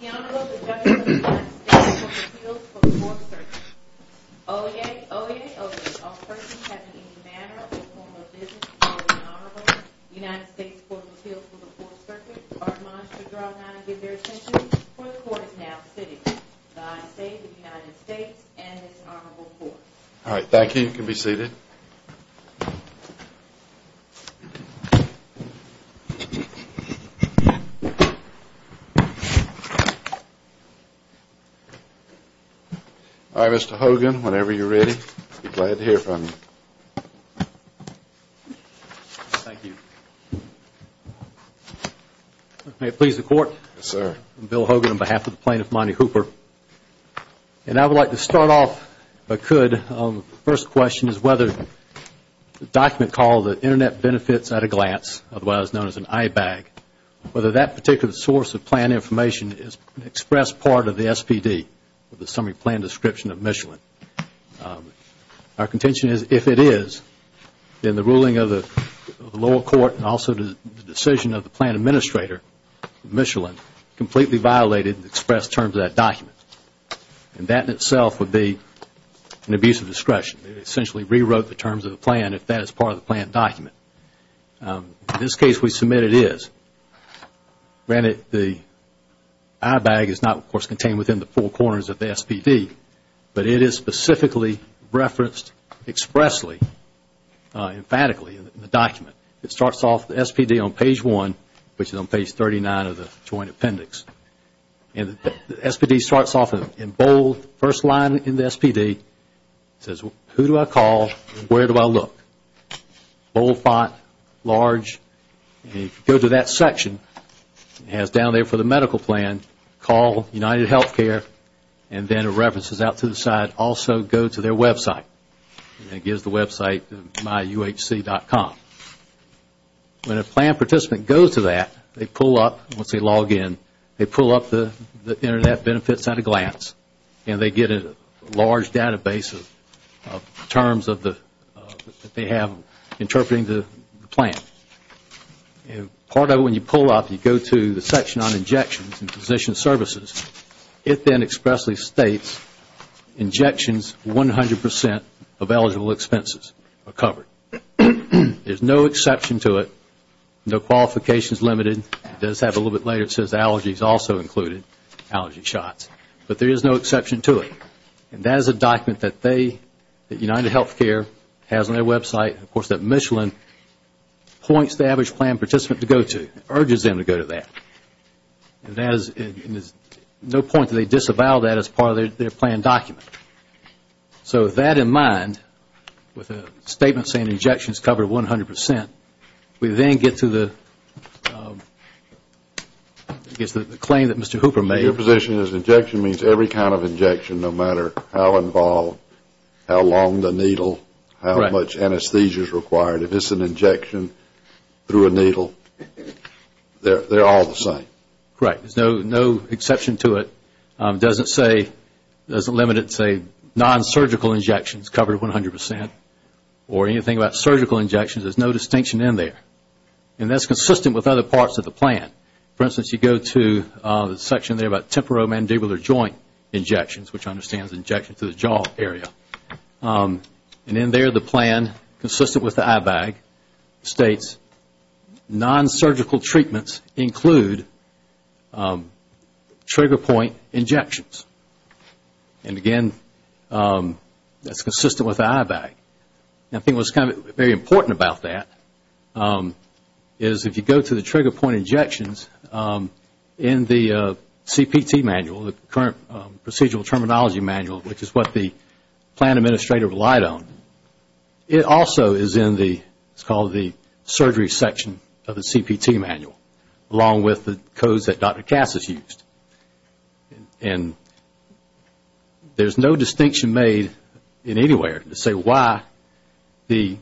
The Honorable Judge of the United States Court of Appeals for the Fourth Circuit. Oyez, oyez, oyez. All persons having any manner or form of business before the Honorable United States Court of Appeals for the Fourth Circuit are admonished to draw not and give their attention, for the court is now sitting. The Honorable Judge of the United States Court of Appeals for the Fourth Circuit. And I would like to start off if I could. The first question is whether the document called the Internet Benefits at a Glance, otherwise known as an IBAG, whether that particular source of plan information is an expressed part of the SPD, the Summary Plan Description of Michelin. Our contention is if it is, then the ruling of the lower court and also the decision of the plan administrator of Michelin completely violated the expressed terms of that document. And that in itself would be an abuse of discretion. It essentially rewrote the terms of the plan if that is part of the plan document. In this case, we submit it is. Granted, the IBAG is not, of course, contained within the four corners of the SPD, but it is specifically referenced expressly, emphatically in the document. It starts off the SPD on page one, which is on page 39 of the Joint Appendix. And the SPD starts off in bold, first line in the SPD. It says, who do I call? Where do I look? Bold font, large. And if you go to that section, it has down there for the medical plan, call UnitedHealthcare, and then it references out to the side, also go to their website. And it gives the website myuhc.com. When a plan participant goes to that, they pull up, once they log in, they pull up the internet benefits at a glance, and they get a large database of terms that they have interpreting the plan. Part of it, when you pull up, you go to the section on injections and physician services. It then expressly states, injections, 100 percent of eligible expenses are covered. There is no exception to it. No qualifications limited. It does have a little bit later, it says allergies also included, allergy shots. But there is no exception to it. And that is a document that they, that UnitedHealthcare has on their website. Of course, that Michelin points the average plan participant to go to, urges them to go to that. And there is no point that they disavow that as part of their plan document. So with that in mind, with a statement saying injections covered 100 percent, we then get to the claim that Mr. Hooper made. Your position is injection means every kind of injection, no matter how involved, how long the needle, how much anesthesia is required. If it is an injection through a needle, they are all the same. Correct. There is no exception to it. It doesn't say, it doesn't limit it to non-surgical injections covered 100 percent or anything about surgical injections. There is no distinction in there. And that is consistent with other parts of the plan. For instance, you go to the section there about temporomandibular joint injections, which understands injections to the jaw area. And in there, the plan, consistent with the IBAG, states non-surgical treatments include trigger point injections, and again, that is consistent with the IBAG. I think what is very important about that is if you go to the trigger point injections in the CPT manual, the current procedural terminology manual, which is what the plan administrator relied on, it also is in the, it is called the surgery section of the CPT manual, along with the codes that Dr. Cass has used. And there is no distinction made in any way to say why the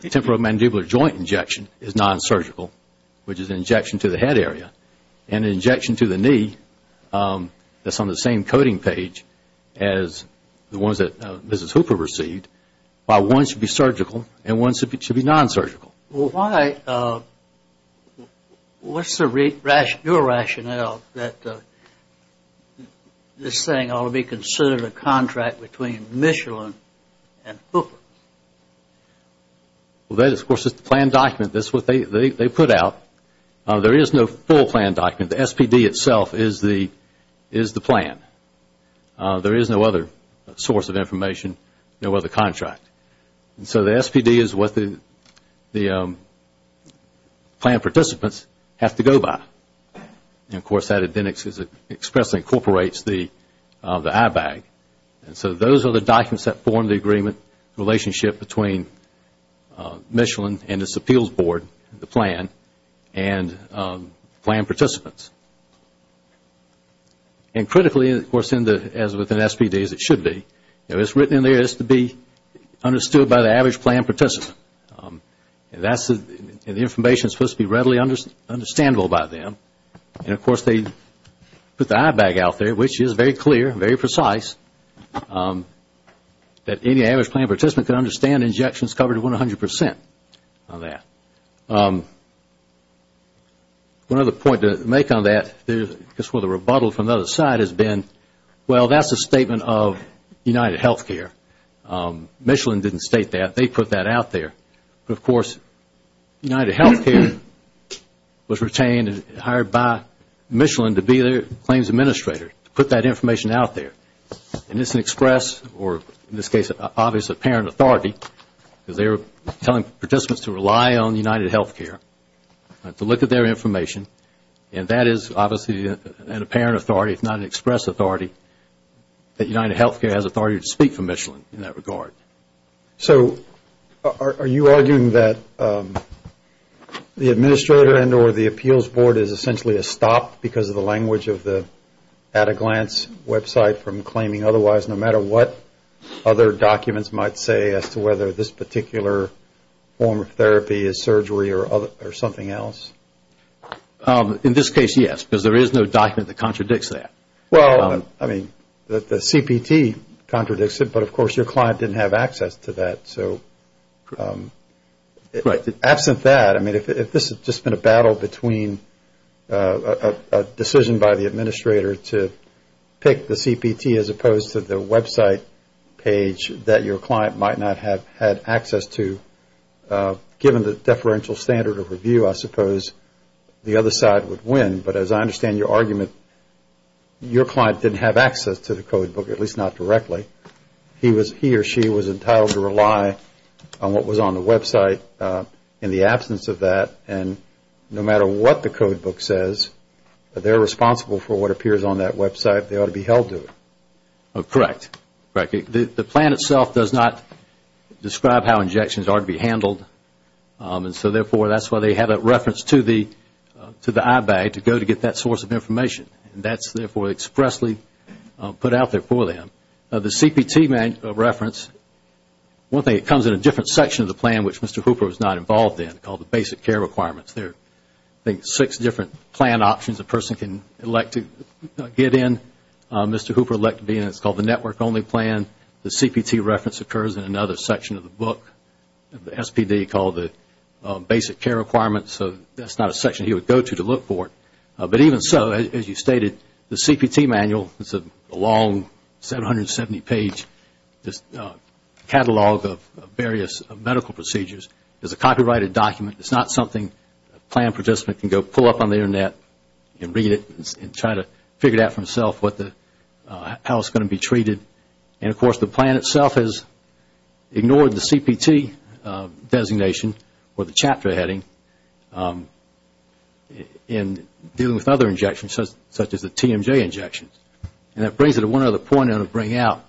temporomandibular joint injection is non-surgical, which is an injection to the head area, and an injection to the knee that is on the same coding page as the ones that Mrs. Hooper received, why one should be surgical and one should be non-surgical. Well, why, what is your rationale that this thing ought to be considered a contract between Michelin and Hooper? Well, that, of course, is the plan document. That is what they put out. There is no full plan document. The SPD itself is the plan. There is no other source of information, no other contract. And so the SPD is what the plan participants have to go by. And, of course, that expressly incorporates the IBAG. And so those are the documents that form the agreement, the relationship between Michelin and its appeals board, the plan, and plan participants. And critically, of course, as with an SPD, as it should be, what is written in there is to be understood by the average plan participant. And the information is supposed to be readily understandable by them. And, of course, they put the IBAG out there, which is very clear, very precise, that any average plan participant can understand injections covered 100 percent of that. One other point to make on that, just with a rebuttal from the other side, has been, well, that's a statement of UnitedHealthcare. Michelin didn't state that. They put that out there. But, of course, UnitedHealthcare was retained and hired by Michelin to be their claims administrator, to put that information out there. And it's an express, or in this case, obviously, apparent authority, because they were telling participants to rely on UnitedHealthcare to look at their information. And that is, obviously, an apparent authority, if not an express authority, that UnitedHealthcare has authority to speak for Michelin in that regard. So are you arguing that the administrator and or the appeals board is essentially a stop because of the language of the at-a-glance website from claiming otherwise, no matter what other documents might say as to whether this particular form of therapy is surgery or something else? In this case, yes, because there is no document that contradicts that. Well, I mean, the CPT contradicts it, but, of course, your client didn't have access to that. So absent that, I mean, if this had just been a battle between a decision by the administrator to pick the CPT as opposed to the website page that your client might not have had access to, given the deferential standard of review, I suppose the other side would win. But as I understand your argument, your client didn't have access to the codebook, at least not directly. He or she was entitled to rely on what was on the website. In the absence of that, and no matter what the codebook says, they're responsible for what appears on that website. They ought to be held to it. Correct. The plan itself does not describe how injections are to be handled. And so, therefore, that's why they have a reference to the IBAG to go to get that source of information. And that's, therefore, expressly put out there for them. The CPT reference, one thing, it comes in a different section of the plan, which Mr. Hooper was not involved in, called the basic care requirements. There are, I think, six different plan options a person can elect to get in. Mr. Hooper elected to be in it. It's called the network-only plan. The CPT reference occurs in another section of the book, the SPD, called the basic care requirements. So that's not a section he would go to to look for it. But even so, as you stated, the CPT manual is a long 770-page catalog of various medical procedures. It's a copyrighted document. It's not something a plan participant can go pull up on the Internet and read it and try to figure out for themselves how it's going to be treated. And, of course, the plan itself has ignored the CPT designation or the chapter heading in dealing with other injections such as the TMJ injections. And that brings it to one other point I want to bring out.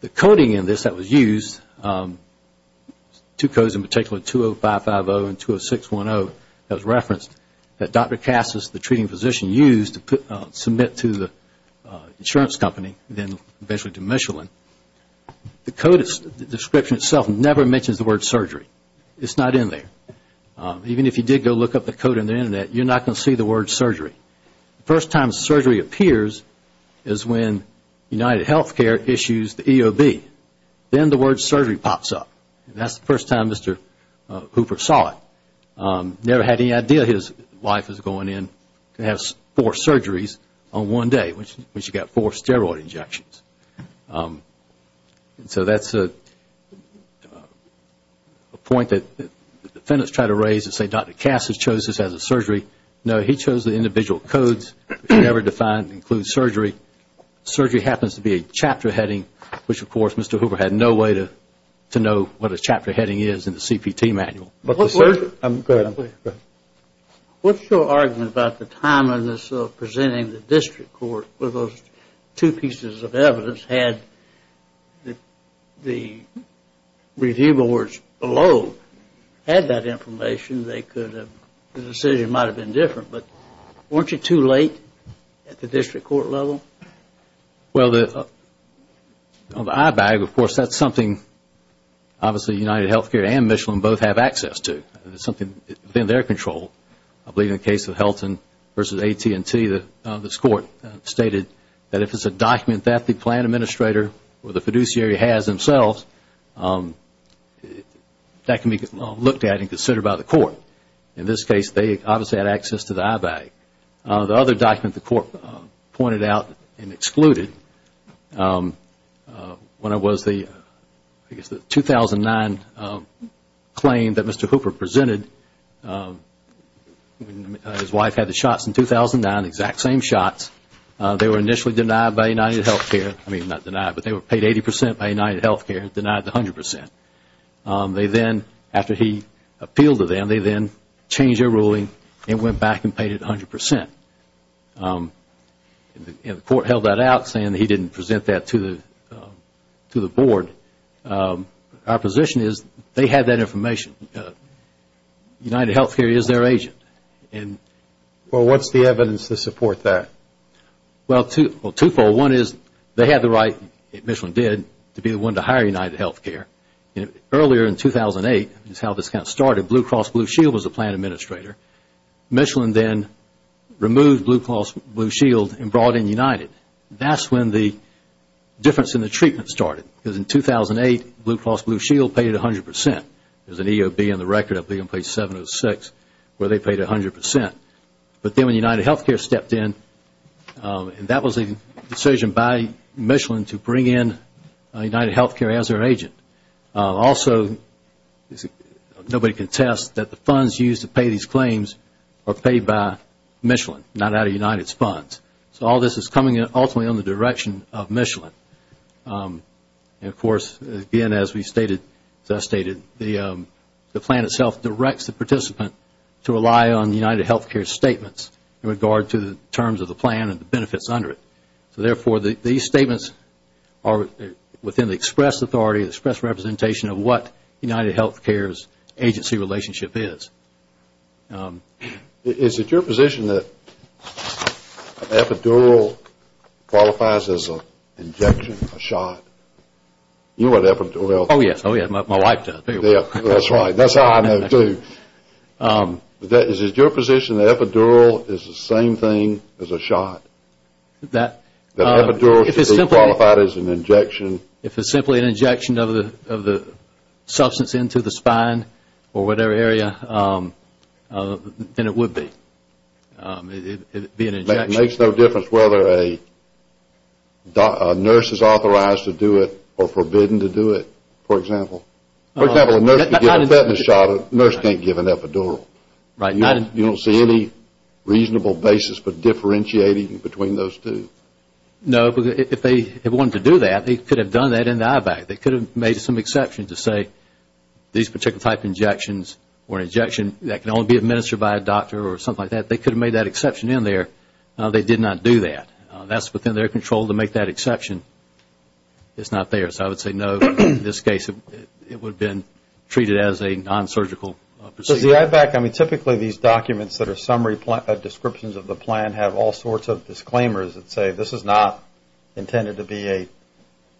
The coding in this that was used, two codes in particular, 20550 and 20610, as referenced, that Dr. Cassis, the treating physician, used to submit to the insurance company and then eventually to Michelin, the code description itself never mentions the word surgery. It's not in there. Even if you did go look up the code on the Internet, you're not going to see the word surgery. The first time surgery appears is when UnitedHealthcare issues the EOB. Then the word surgery pops up. That's the first time Mr. Hooper saw it. Never had any idea his wife was going in to have four surgeries on one day, when she got four steroid injections. So that's a point that the defendants try to raise and say Dr. Cassis chose this as a surgery. No, he chose the individual codes. It never defined and includes surgery. Surgery happens to be a chapter heading, which of course Mr. Hooper had no way to know what a chapter heading is in the CPT manual. Go ahead. What's your argument about the timeliness of presenting the district court with those two pieces of evidence had the review boards below had that information, the decision might have been different. But weren't you too late at the district court level? Well, the eye bag, of course, that's something obviously UnitedHealthcare and Michelin both have access to. It's something within their control. I believe in the case of Helton versus AT&T, this court stated that if it's a document that the plan administrator or the fiduciary has themselves, that can be looked at and considered by the court. In this case, they obviously had access to the eye bag. The other document the court pointed out and excluded when it was the 2009 claim that Mr. Hooper presented, his wife had the shots in 2009, exact same shots. They were initially denied by UnitedHealthcare, I mean not denied, but they were paid 80% by UnitedHealthcare, denied 100%. After he appealed to them, they then changed their ruling and went back and paid it 100%. The court held that out saying he didn't present that to the board. Our position is they had that information. UnitedHealthcare is their agent. Well, what's the evidence to support that? Well, twofold. One is they had the right, Michelin did, to be the one to hire UnitedHealthcare. Earlier in 2008 is how this kind of started. Blue Cross Blue Shield was the plan administrator. Michelin then removed Blue Cross Blue Shield and brought in United. That's when the difference in the treatment started because in 2008, Blue Cross Blue Shield paid 100%. There's an EOB in the record up there on page 706 where they paid 100%. But then when UnitedHealthcare stepped in, that was a decision by Michelin to bring in UnitedHealthcare as their agent. Also, nobody can test that the funds used to pay these claims are paid by Michelin, not out of United's funds. So all this is coming ultimately in the direction of Michelin. The plan itself directs the participant to rely on UnitedHealthcare's statements in regard to the terms of the plan and the benefits under it. So therefore, these statements are within the express authority, the express representation of what UnitedHealthcare's agency relationship is. Is it your position that epidural qualifies as an injection, a shot? You know what epidural is? Oh, yes. Oh, yes. My wife does. That's right. That's how I know too. Is it your position that epidural is the same thing as a shot? That epidural should be qualified as an injection? If it's simply an injection of the substance into the spine or whatever area, then it would be. It would be an injection. It makes no difference whether a nurse is authorized to do it or forbidden to do it, for example. For example, a nurse can give a fetish shot. A nurse can't give an epidural. Right. You don't see any reasonable basis for differentiating between those two. No. If they wanted to do that, they could have done that in the eye bag. They could have made some exception to say these particular type of injections were an injection that can only be administered by a doctor or something like that. They could have made that exception in there. They did not do that. That's within their control to make that exception. It's not theirs. I would say, no, in this case it would have been treated as a non-surgical procedure. Does the eye bag, I mean, typically these documents that are summary descriptions of the plan have all sorts of disclaimers that say this is not intended to be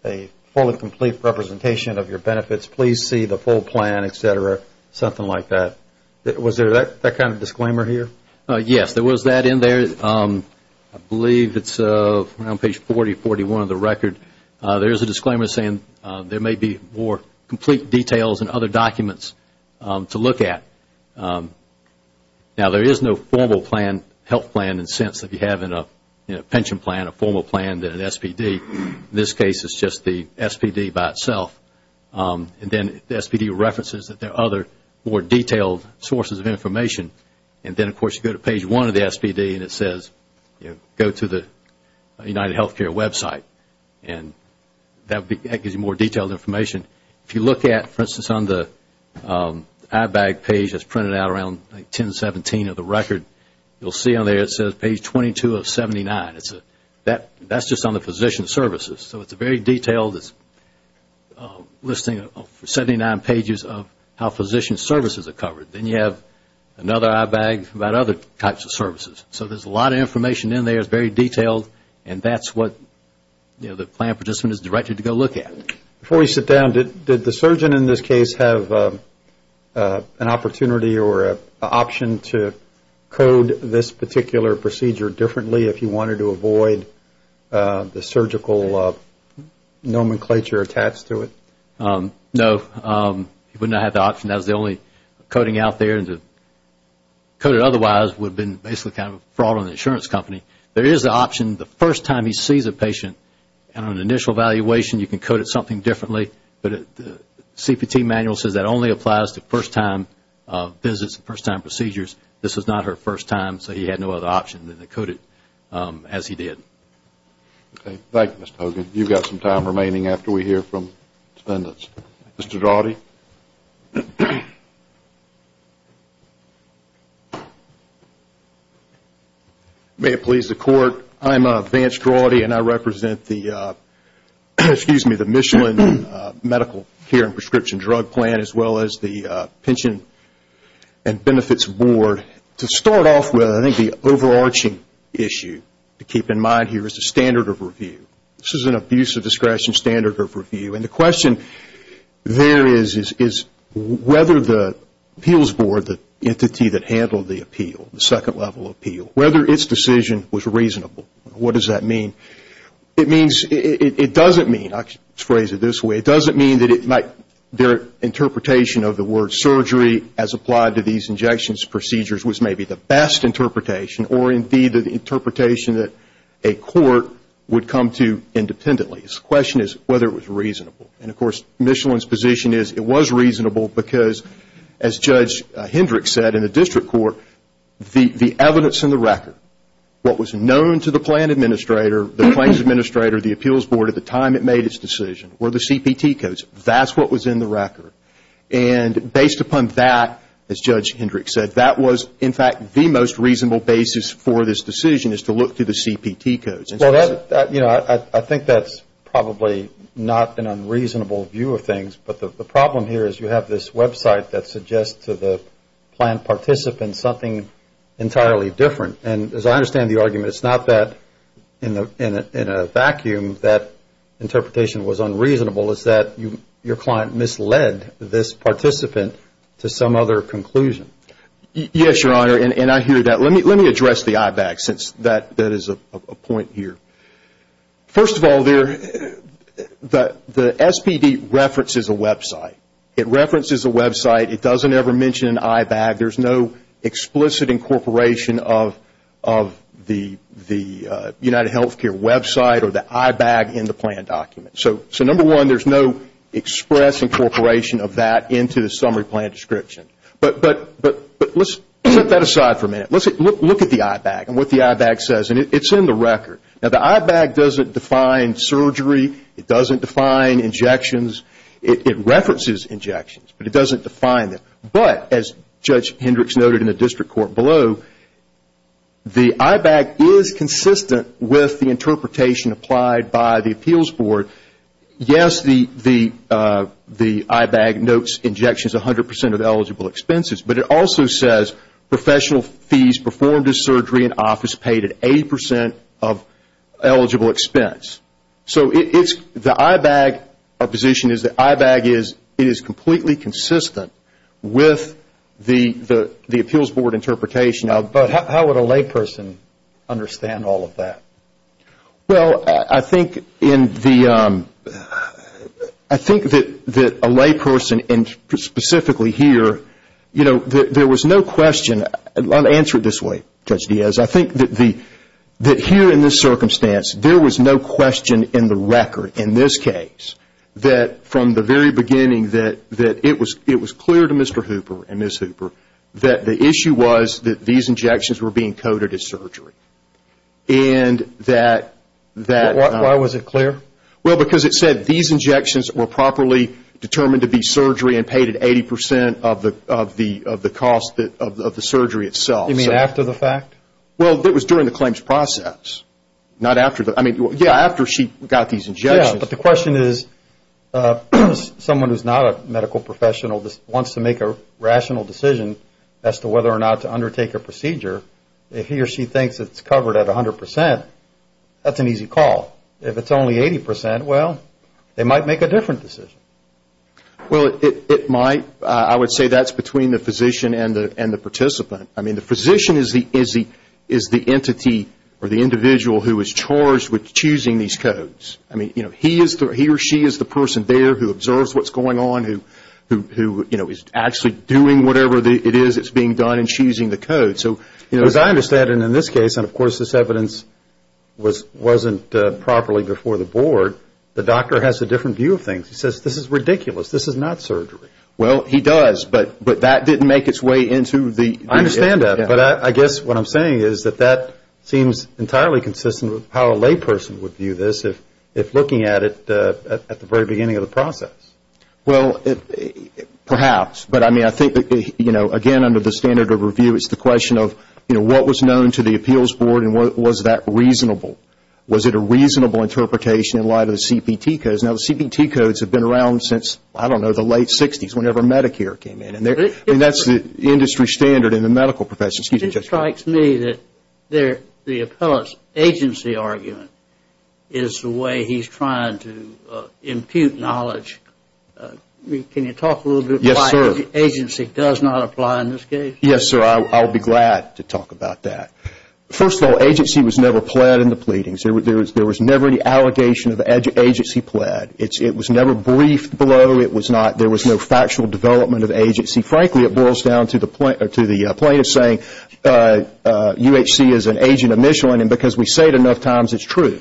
a fully complete representation of your benefits. Please see the full plan, et cetera, something like that. Was there that kind of disclaimer here? Yes, there was that in there. I believe it's around page 40, 41 of the record. There is a disclaimer saying there may be more complete details and other documents to look at. Now, there is no formal plan, health plan in a sense that you have in a pension plan, a formal plan than an SPD. In this case, it's just the SPD by itself. And then the SPD references that there are other more detailed sources of information. And then, of course, you go to page one of the SPD and it says go to the UnitedHealthcare website. And that gives you more detailed information. If you look at, for instance, on the eye bag page that's printed out around 1017 of the record, you'll see on there it says page 22 of 79. That's just on the physician services. So it's a very detailed listing of 79 pages of how physician services are covered. Then you have another eye bag about other types of services. So there's a lot of information in there. It's very detailed. And that's what the plan participant is directed to go look at. Before we sit down, did the surgeon in this case have an opportunity or an option to code this particular procedure differently if he wanted to avoid the surgical nomenclature attached to it? No, he would not have the option. That's the only coding out there. To code it otherwise would have been basically kind of a fraud on the insurance company. There is an option the first time he sees a patient. On an initial evaluation, you can code it something differently. But the CPT manual says that only applies to first-time visits, first-time procedures. This was not her first time, so he had no other option than to code it as he did. Okay. Thank you, Mr. Hogan. You've got some time remaining after we hear from the attendants. Mr. Daugherty? May it please the Court, I'm Vance Daugherty, and I represent the Michelin Medical Care and Prescription Drug Plan as well as the Pension and Benefits Board. To start off with, I think the overarching issue to keep in mind here is the standard of review. This is an abuse of discretion standard of review. And the question there is whether the appeals board, the entity that handled the appeal, the second level appeal, whether its decision was reasonable. What does that mean? It means, it doesn't mean, I'll phrase it this way, it doesn't mean that their interpretation of the word surgery as applied to these injections procedures was maybe the best interpretation or indeed the interpretation that a court would come to independently. The question is whether it was reasonable. And, of course, Michelin's position is it was reasonable because, as Judge Hendrick said in the district court, the evidence in the record, what was known to the plan administrator, the claims administrator, the appeals board at the time it made its decision were the CPT codes. That's what was in the record. And based upon that, as Judge Hendrick said, that was in fact the most reasonable basis for this decision is to look to the CPT codes. I think that's probably not an unreasonable view of things, but the problem here is you have this website that suggests to the plan participant something entirely different. And as I understand the argument, it's not that in a vacuum that interpretation was unreasonable. It's that your client misled this participant to some other conclusion. Yes, Your Honor, and I hear that. Let me address the IBAG since that is a point here. First of all, the SPD references a website. It references a website. It doesn't ever mention an IBAG. There's no explicit incorporation of the UnitedHealthcare website or the IBAG in the plan document. So, number one, there's no express incorporation of that into the summary plan description. But let's set that aside for a minute. Let's look at the IBAG and what the IBAG says, and it's in the record. Now, the IBAG doesn't define surgery. It doesn't define injections. It references injections, but it doesn't define them. But as Judge Hendricks noted in the district court below, the IBAG is consistent with the interpretation applied by the appeals board. Yes, the IBAG notes injections 100% of eligible expenses, but it also says professional fees performed in surgery and office paid at 80% of eligible expense. So the IBAG position is that IBAG is completely consistent with the appeals board interpretation. But how would a layperson understand all of that? Well, I think that a layperson, and specifically here, you know, there was no question. I'll answer it this way, Judge Diaz. I think that here in this circumstance, there was no question in the record, in this case, that from the very beginning that it was clear to Mr. Hooper and Ms. Hooper that the issue was that these injections were being coded as surgery. And that... Why was it clear? Well, because it said these injections were properly determined to be surgery and paid at 80% of the cost of the surgery itself. You mean after the fact? Well, it was during the claims process, not after. I mean, yeah, after she got these injections. Yeah, but the question is someone who's not a medical professional that wants to make a rational decision as to whether or not to undertake a procedure, if he or she thinks it's covered at 100%, that's an easy call. If it's only 80%, well, they might make a different decision. Well, it might. I would say that's between the physician and the participant. I mean, the physician is the entity or the individual who is charged with choosing these codes. I mean, you know, he or she is the person there who observes what's going on, who is actually doing whatever it is that's being done and choosing the codes. As I understand it in this case, and of course this evidence wasn't properly before the board, the doctor has a different view of things. He says this is ridiculous, this is not surgery. Well, he does, but that didn't make its way into the... I understand that, but I guess what I'm saying is that that seems entirely consistent with how a layperson would view this if looking at it at the very beginning of the process. Well, perhaps, but I mean, I think, you know, again, under the standard of review, it's the question of, you know, what was known to the appeals board and was that reasonable? Was it a reasonable interpretation in light of the CPT codes? Now, the CPT codes have been around since, I don't know, the late 60s, whenever Medicare came in. I mean, that's the industry standard in the medical profession. It strikes me that the appellate's agency argument is the way he's trying to impute knowledge. Can you talk a little bit about why agency does not apply in this case? Yes, sir, I'll be glad to talk about that. First of all, agency was never pled in the pleadings. There was never any allegation of agency pled. It was never briefed below. There was no factual development of agency. Frankly, it boils down to the plaintiff saying UHC is an agent of Michelin, and because we say it enough times, it's true.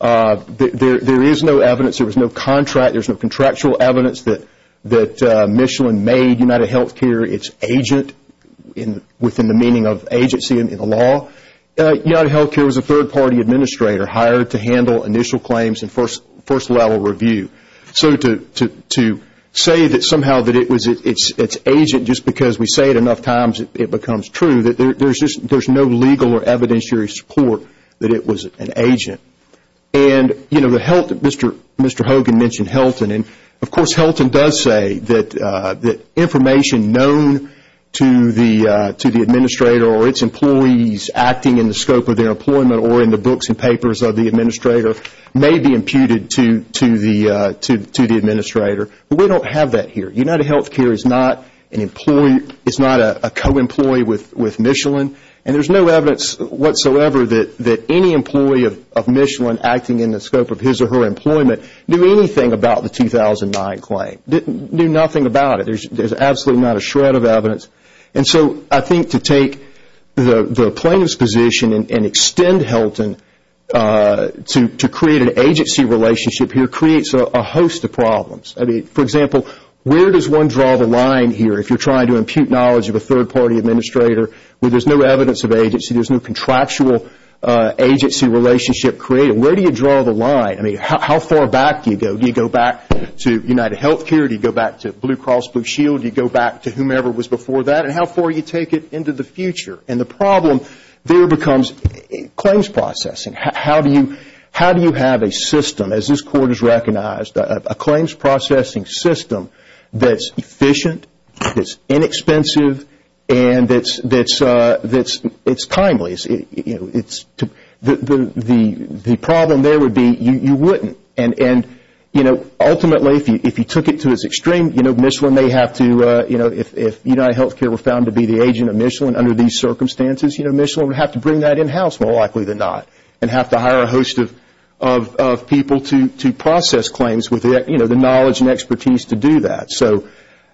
There is no evidence. There was no contract. There's no contractual evidence that Michelin made UnitedHealthcare its agent within the meaning of agency in the law. UnitedHealthcare was a third-party administrator hired to handle initial claims and first-level review. So to say that somehow that it was its agent just because we say it enough times, it becomes true. There's no legal or evidentiary support that it was an agent. And, you know, Mr. Hogan mentioned Helton, and, of course, Helton does say that information known to the administrator or its employees acting in the scope of their employment or in the books and papers of the administrator may be imputed to the administrator. But we don't have that here. UnitedHealthcare is not a co-employee with Michelin, and there's no evidence whatsoever that any employee of Michelin acting in the scope of his or her employment knew anything about the 2009 claim, knew nothing about it. There's absolutely not a shred of evidence. And so I think to take the plaintiff's position and extend Helton to create an agency relationship here creates a host of problems. I mean, for example, where does one draw the line here if you're trying to impute knowledge of a third-party administrator where there's no evidence of agency, there's no contractual agency relationship created? Where do you draw the line? I mean, how far back do you go? Do you go back to UnitedHealthcare? Do you go back to Blue Cross Blue Shield? Do you go back to whomever was before that? And how far do you take it into the future? And the problem there becomes claims processing. How do you have a system, as this Court has recognized, a claims processing system that's efficient, that's inexpensive, and that's timely? The problem there would be you wouldn't. Ultimately, if you took it to its extreme, if UnitedHealthcare were found to be the agent of Michelin under these circumstances, Michelin would have to bring that in-house more likely than not and have to hire a host of people to process claims with the knowledge and expertise to do that. So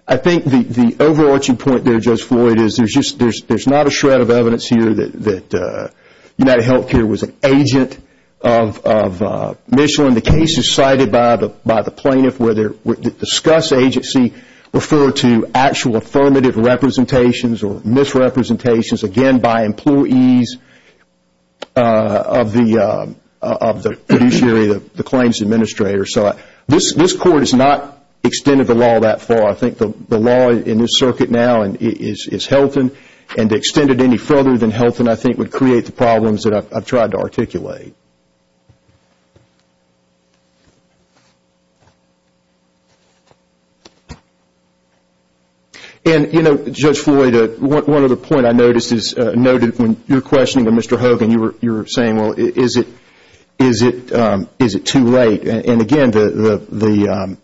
I think the overarching point there, Judge Floyd, is there's not a shred of evidence here that UnitedHealthcare was an agent of Michelin. The cases cited by the plaintiff where they discuss agency refer to actual affirmative representations or misrepresentations, again, by employees of the fiduciary, the claims administrator. So this Court has not extended the law that far. I think the law in this circuit now is Helton, and to extend it any further than Helton, I think, would create the problems that I've tried to articulate. And, you know, Judge Floyd, one other point I noticed is when you're questioning Mr. Hogan, you were saying, well, is it too late? And again, Mr.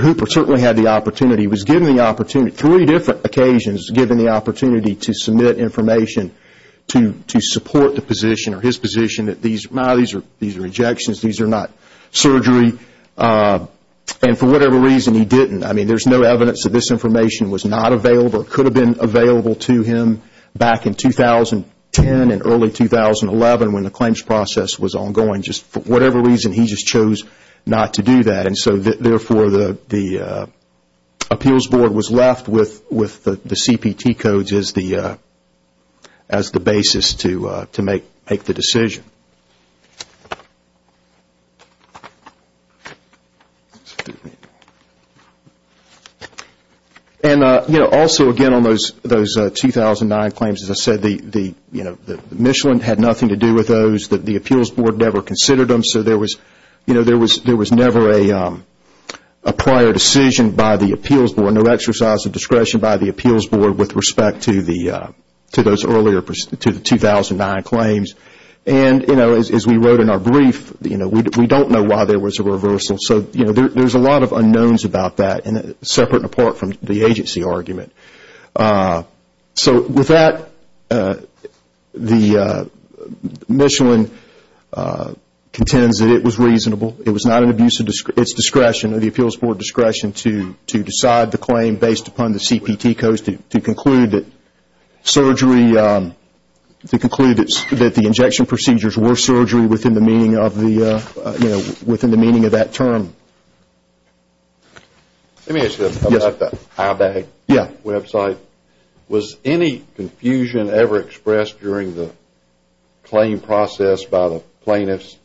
Hooper certainly had the opportunity. He was given the opportunity, three different occasions, given the opportunity to submit information to support the position or his position that these are rejections, these are not surgery. And for whatever reason, he didn't. I mean, there's no evidence that this information was not available or could have been available to him back in 2010 and early 2011 when the claims process was ongoing. Just for whatever reason, he just chose not to do that. And so, therefore, the appeals board was left with the CPT codes as the basis to make the decision. And, you know, also, again, on those 2009 claims, as I said, the Michelin had nothing to do with those, the appeals board never considered them, so there was never a prior decision by the appeals board, no exercise of discretion by the appeals board with respect to those earlier 2009 claims. And, you know, as we wrote in our brief, we don't know why there was a reversal. So, you know, there's a lot of unknowns about that, separate and apart from the agency argument. So, with that, the Michelin contends that it was reasonable. It was not an abuse of its discretion or the appeals board discretion to decide the claim based upon the CPT codes to conclude that surgery, to conclude that the injection procedures were surgery within the meaning of that term. Let me ask you about the iBag website. Was any confusion ever expressed during the claim process by the plaintiffs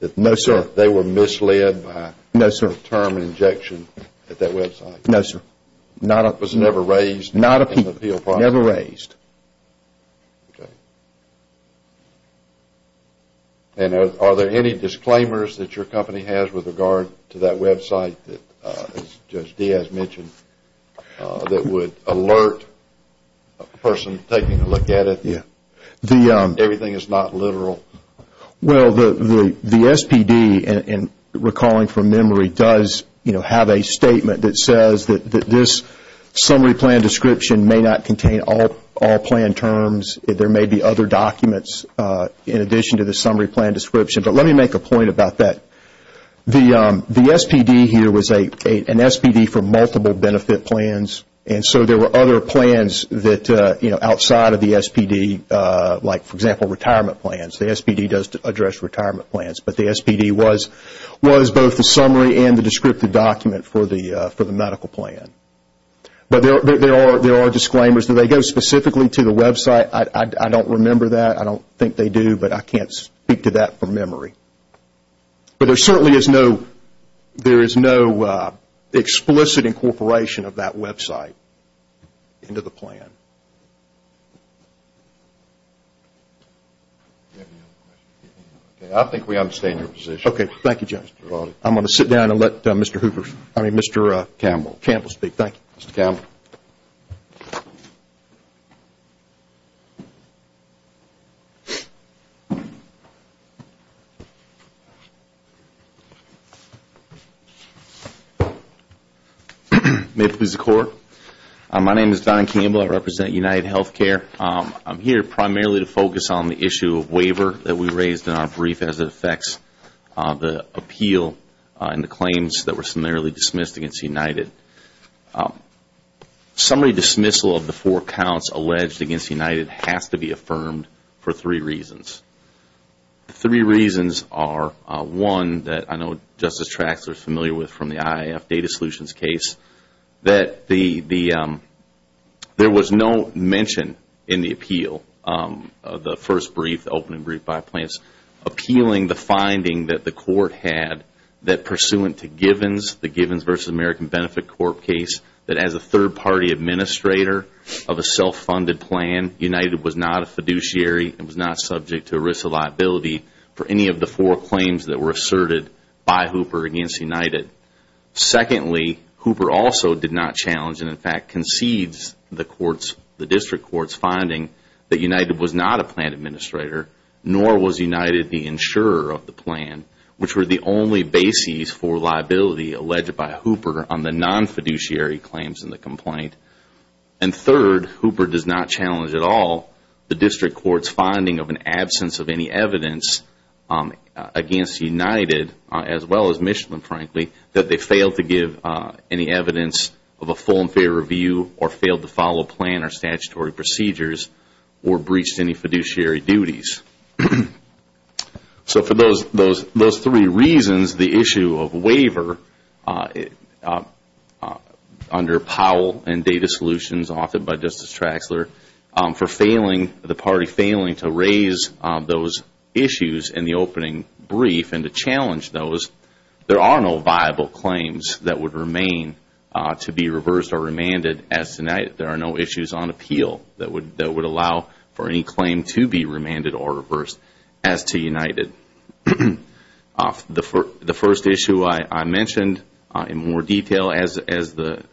that they were misled by the term injection at that website? No, sir. It was never raised in the appeal process? Never raised. Okay. And are there any disclaimers that your company has with regard to that website that, as Judge Diaz mentioned, that would alert a person taking a look at it, everything is not literal? Well, the SPD, recalling from memory, does have a statement that says that this summary plan description may not contain all plan terms. There may be other documents in addition to the summary plan description, but let me make a point about that. The SPD here was an SPD for multiple benefit plans, and so there were other plans that, you know, outside of the SPD, like, for example, retirement plans. The SPD does address retirement plans, but the SPD was both the summary and the descriptive document for the medical plan. But there are disclaimers. Do they go specifically to the website? I don't remember that. I don't think they do, but I can't speak to that from memory. But there certainly is no explicit incorporation of that website into the plan. I think we understand your position. Okay. Thank you, Judge. I'm going to sit down and let Mr. Hooper, I mean, Mr. Campbell speak. Thank you, Mr. Campbell. May it please the Court. My name is Don Campbell. I represent UnitedHealthcare. I'm here primarily to focus on the issue of waiver that we raised in our brief, as it affects the appeal and the claims that were summarily dismissed against United. Summary dismissal of the four counts alleged against United has to be affirmed for three reasons. The three reasons are, one, that I know Justice Traxler is familiar with from the IIF data solutions case, that there was no mention in the appeal of the first brief, the opening brief by plans, appealing the finding that the Court had that pursuant to the Givens v. American Benefit Corp. case, that as a third-party administrator of a self-funded plan, United was not a fiduciary and was not subject to a risk of liability for any of the four claims that were asserted by Hooper against United. Secondly, Hooper also did not challenge and in fact concedes the District Court's finding that United was not a plan administrator, nor was United the insurer of the plan, which were the only bases for liability alleged by Hooper on the non-fiduciary claims in the complaint. And third, Hooper does not challenge at all the District Court's finding of an absence of any evidence against United, as well as Michelin frankly, that they failed to give any evidence of a full and fair review or failed to follow plan or statutory procedures or breached any fiduciary duties. So for those three reasons, the issue of waiver under Powell and data solutions offered by Justice Traxler for the party failing to raise those issues in the opening brief and to challenge those, there are no viable claims that would remain to be reversed or remanded as to United. There are no issues on appeal that would allow for any claim to be remanded or reversed as to United. The first issue I mentioned in more detail, as the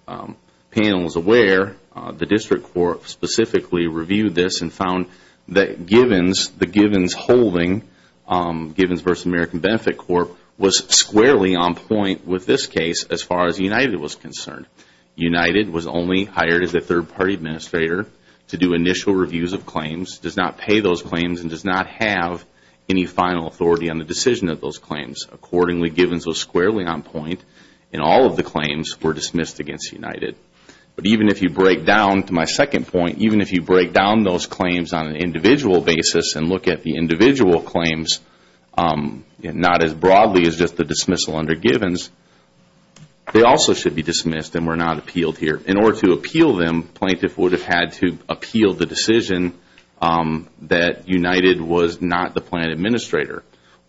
panel is aware, the District Court specifically reviewed this and found that the Givens holding, Givens v. American Benefit Corp., was squarely on point with this case as far as United was concerned. United was only hired as a third party administrator to do initial reviews of claims, does not pay those claims and does not have any final authority on the decision of those claims. Accordingly, Givens was squarely on point and all of the claims were dismissed against United. But even if you break down to my second point, even if you break down those claims on an individual basis and look at the individual claims, not as broadly as just the dismissal under Givens, they also should be dismissed and were not appealed here. In order to appeal them, plaintiff would have had to appeal the decision that United was not the plan administrator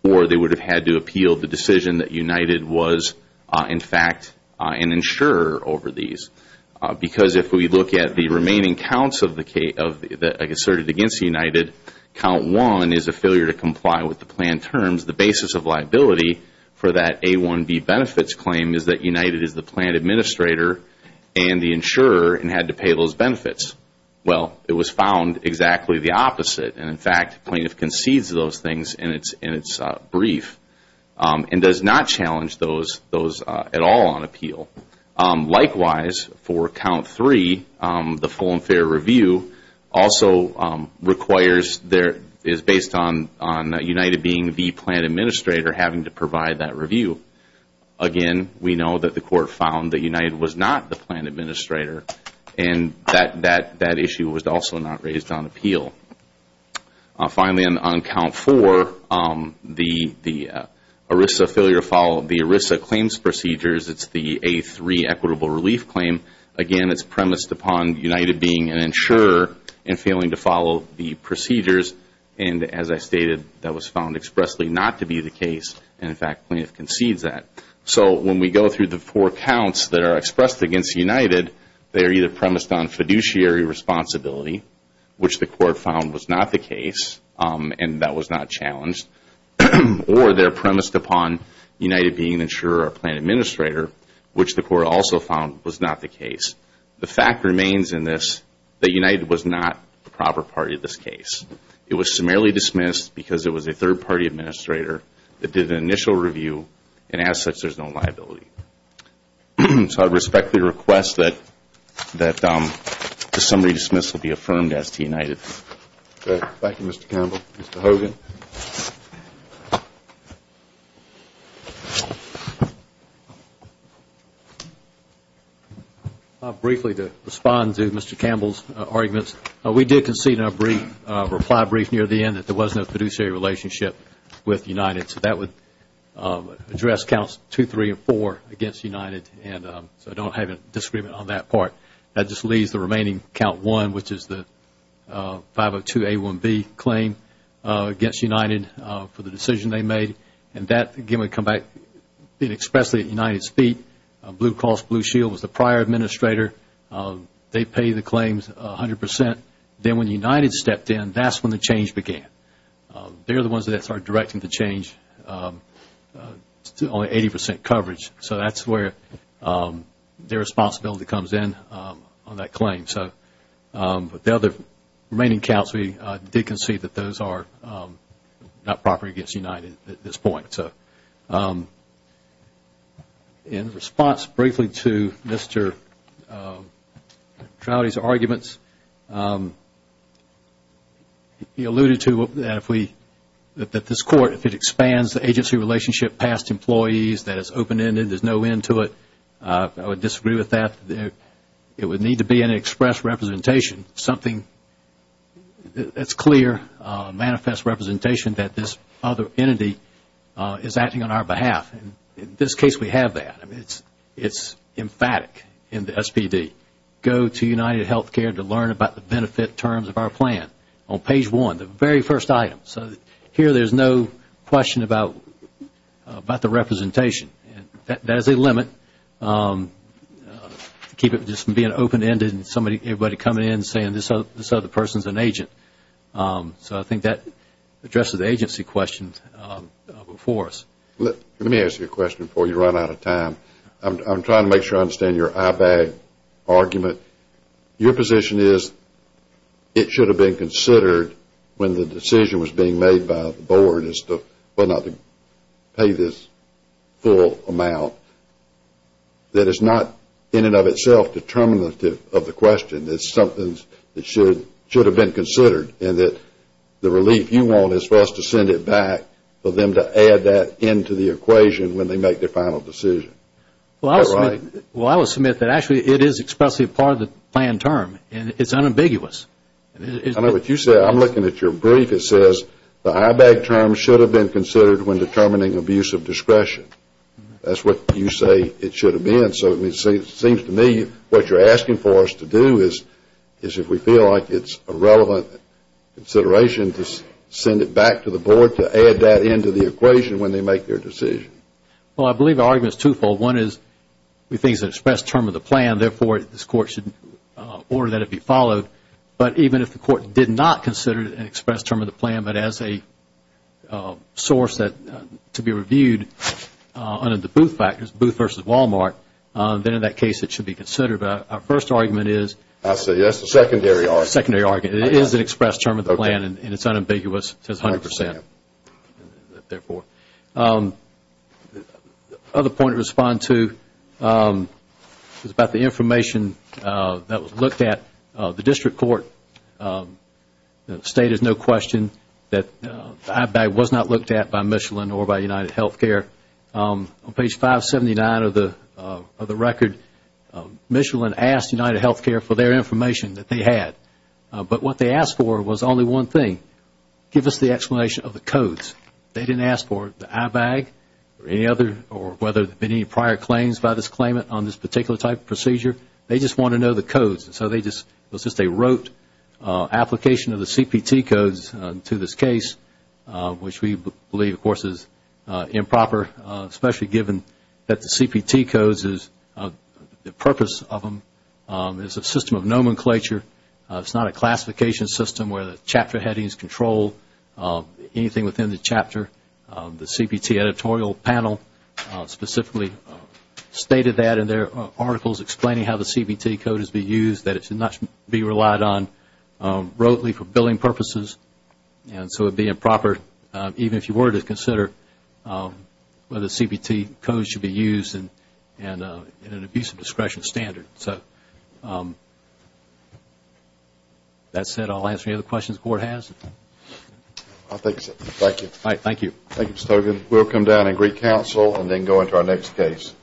or they would have had to appeal the decision that United was, in fact, an insurer over these. Because if we look at the remaining counts asserted against United, count one is a failure to comply with the plan terms. The basis of liability for that A1B benefits claim is that United is the plan administrator and the insurer and had to pay those benefits. Well, it was found exactly the opposite and, in fact, plaintiff concedes those things in its brief and does not challenge those at all on appeal. Likewise, for count three, the full and fair review also requires, is based on United being the plan administrator having to provide that review. Again, we know that the court found that United was not the plan administrator and that issue was also not raised on appeal. Finally, on count four, the ERISA claims procedures, it's the A3 equitable relief claim. Again, it's premised upon United being an insurer and failing to follow the procedures. As I stated, that was found expressly not to be the case and, in fact, plaintiff concedes that. When we go through the four counts that are expressed against United, they are either premised on fiduciary responsibility, which the court found was not the case and that was not challenged, or they're premised upon United being an insurer or plan administrator, which the court also found was not the case. The fact remains in this that United was not the proper party to this case. It was summarily dismissed because it was a third-party administrator that did an initial review and, as such, there's no liability. So I respectfully request that the summary dismissal be affirmed as to United. Thank you, Mr. Campbell. Thank you, Mr. Hogan. Briefly, to respond to Mr. Campbell's arguments, we did concede in our reply brief near the end that there was no fiduciary relationship with United. So that would address counts two, three, and four against United, and so I don't have a disagreement on that part. That just leaves the remaining count one, which is the 502A1B claim against United for the decision they made, and that, again, would come back expressly at United's feet. Blue Cross Blue Shield was the prior administrator. They pay the claims 100 percent. Then when United stepped in, that's when the change began. They're the ones that started directing the change to only 80 percent coverage. So that's where their responsibility comes in on that claim. But the other remaining counts, we did concede that those are not proper against United at this point. In response briefly to Mr. Trouty's arguments, he alluded to that this Court, if it expands the agency relationship past employees, that it's open-ended, there's no end to it. I would disagree with that. It would need to be an express representation, something that's clear, manifest representation, that this other entity is acting on our behalf. In this case, we have that. It's emphatic in the SPD. Go to United Health Care to learn about the benefit terms of our plan on page one, the very first item. So here there's no question about the representation. That is a limit. Keep it from just being open-ended and everybody coming in saying this other person is an agent. So I think that addresses the agency questions before us. Let me ask you a question before you run out of time. I'm trying to make sure I understand your eyebag argument. Your position is it should have been considered when the decision was being made by the Board as to whether or not to pay this full amount. That it's not in and of itself determinative of the question. It's something that should have been considered and that the relief you want is for us to send it back for them to add that into the equation when they make their final decision. Well, I will submit that actually it is expressly part of the plan term. It's unambiguous. I know what you said. I'm looking at your brief. It says the eyebag term should have been considered when determining abuse of discretion. That's what you say it should have been. So it seems to me what you're asking for us to do is if we feel like it's a relevant consideration, to send it back to the Board to add that into the equation when they make their decision. Well, I believe the argument is twofold. One is we think it's an express term of the plan. Therefore, this Court should order that it be followed. But even if the Court did not consider it an express term of the plan, but as a source to be reviewed under the Booth factors, Booth versus Walmart, then in that case it should be considered. Our first argument is... I see. That's the secondary argument. Secondary argument. It is an express term of the plan and it's unambiguous. It says 100%. The other point to respond to is about the information that was looked at. The District Court stated no question that the eyebag was not looked at by Michelin or by UnitedHealthcare. On page 579 of the record, Michelin asked UnitedHealthcare for their information that they had. But what they asked for was only one thing. Give us the explanation of the codes. They didn't ask for the eyebag or any other or whether there had been any prior claims by this claimant on this particular type of procedure. They just wanted to know the codes. So it was just a rote application of the CPT codes to this case, which we believe, of course, is improper, especially given that the CPT codes, the purpose of them is a system of nomenclature, it's not a classification system where the chapter headings control anything within the chapter. The CPT editorial panel specifically stated that in their articles, explaining how the CPT codes should be used, that it should not be relied on broadly for billing purposes, and so it would be improper even if you were to consider whether the CPT codes should be used in an abuse of discretion standard. So that said, I'll answer any other questions the Court has. I think so. Thank you. All right. Thank you. Thank you, Mr. Togan. We'll come down and greet counsel and then go into our next case.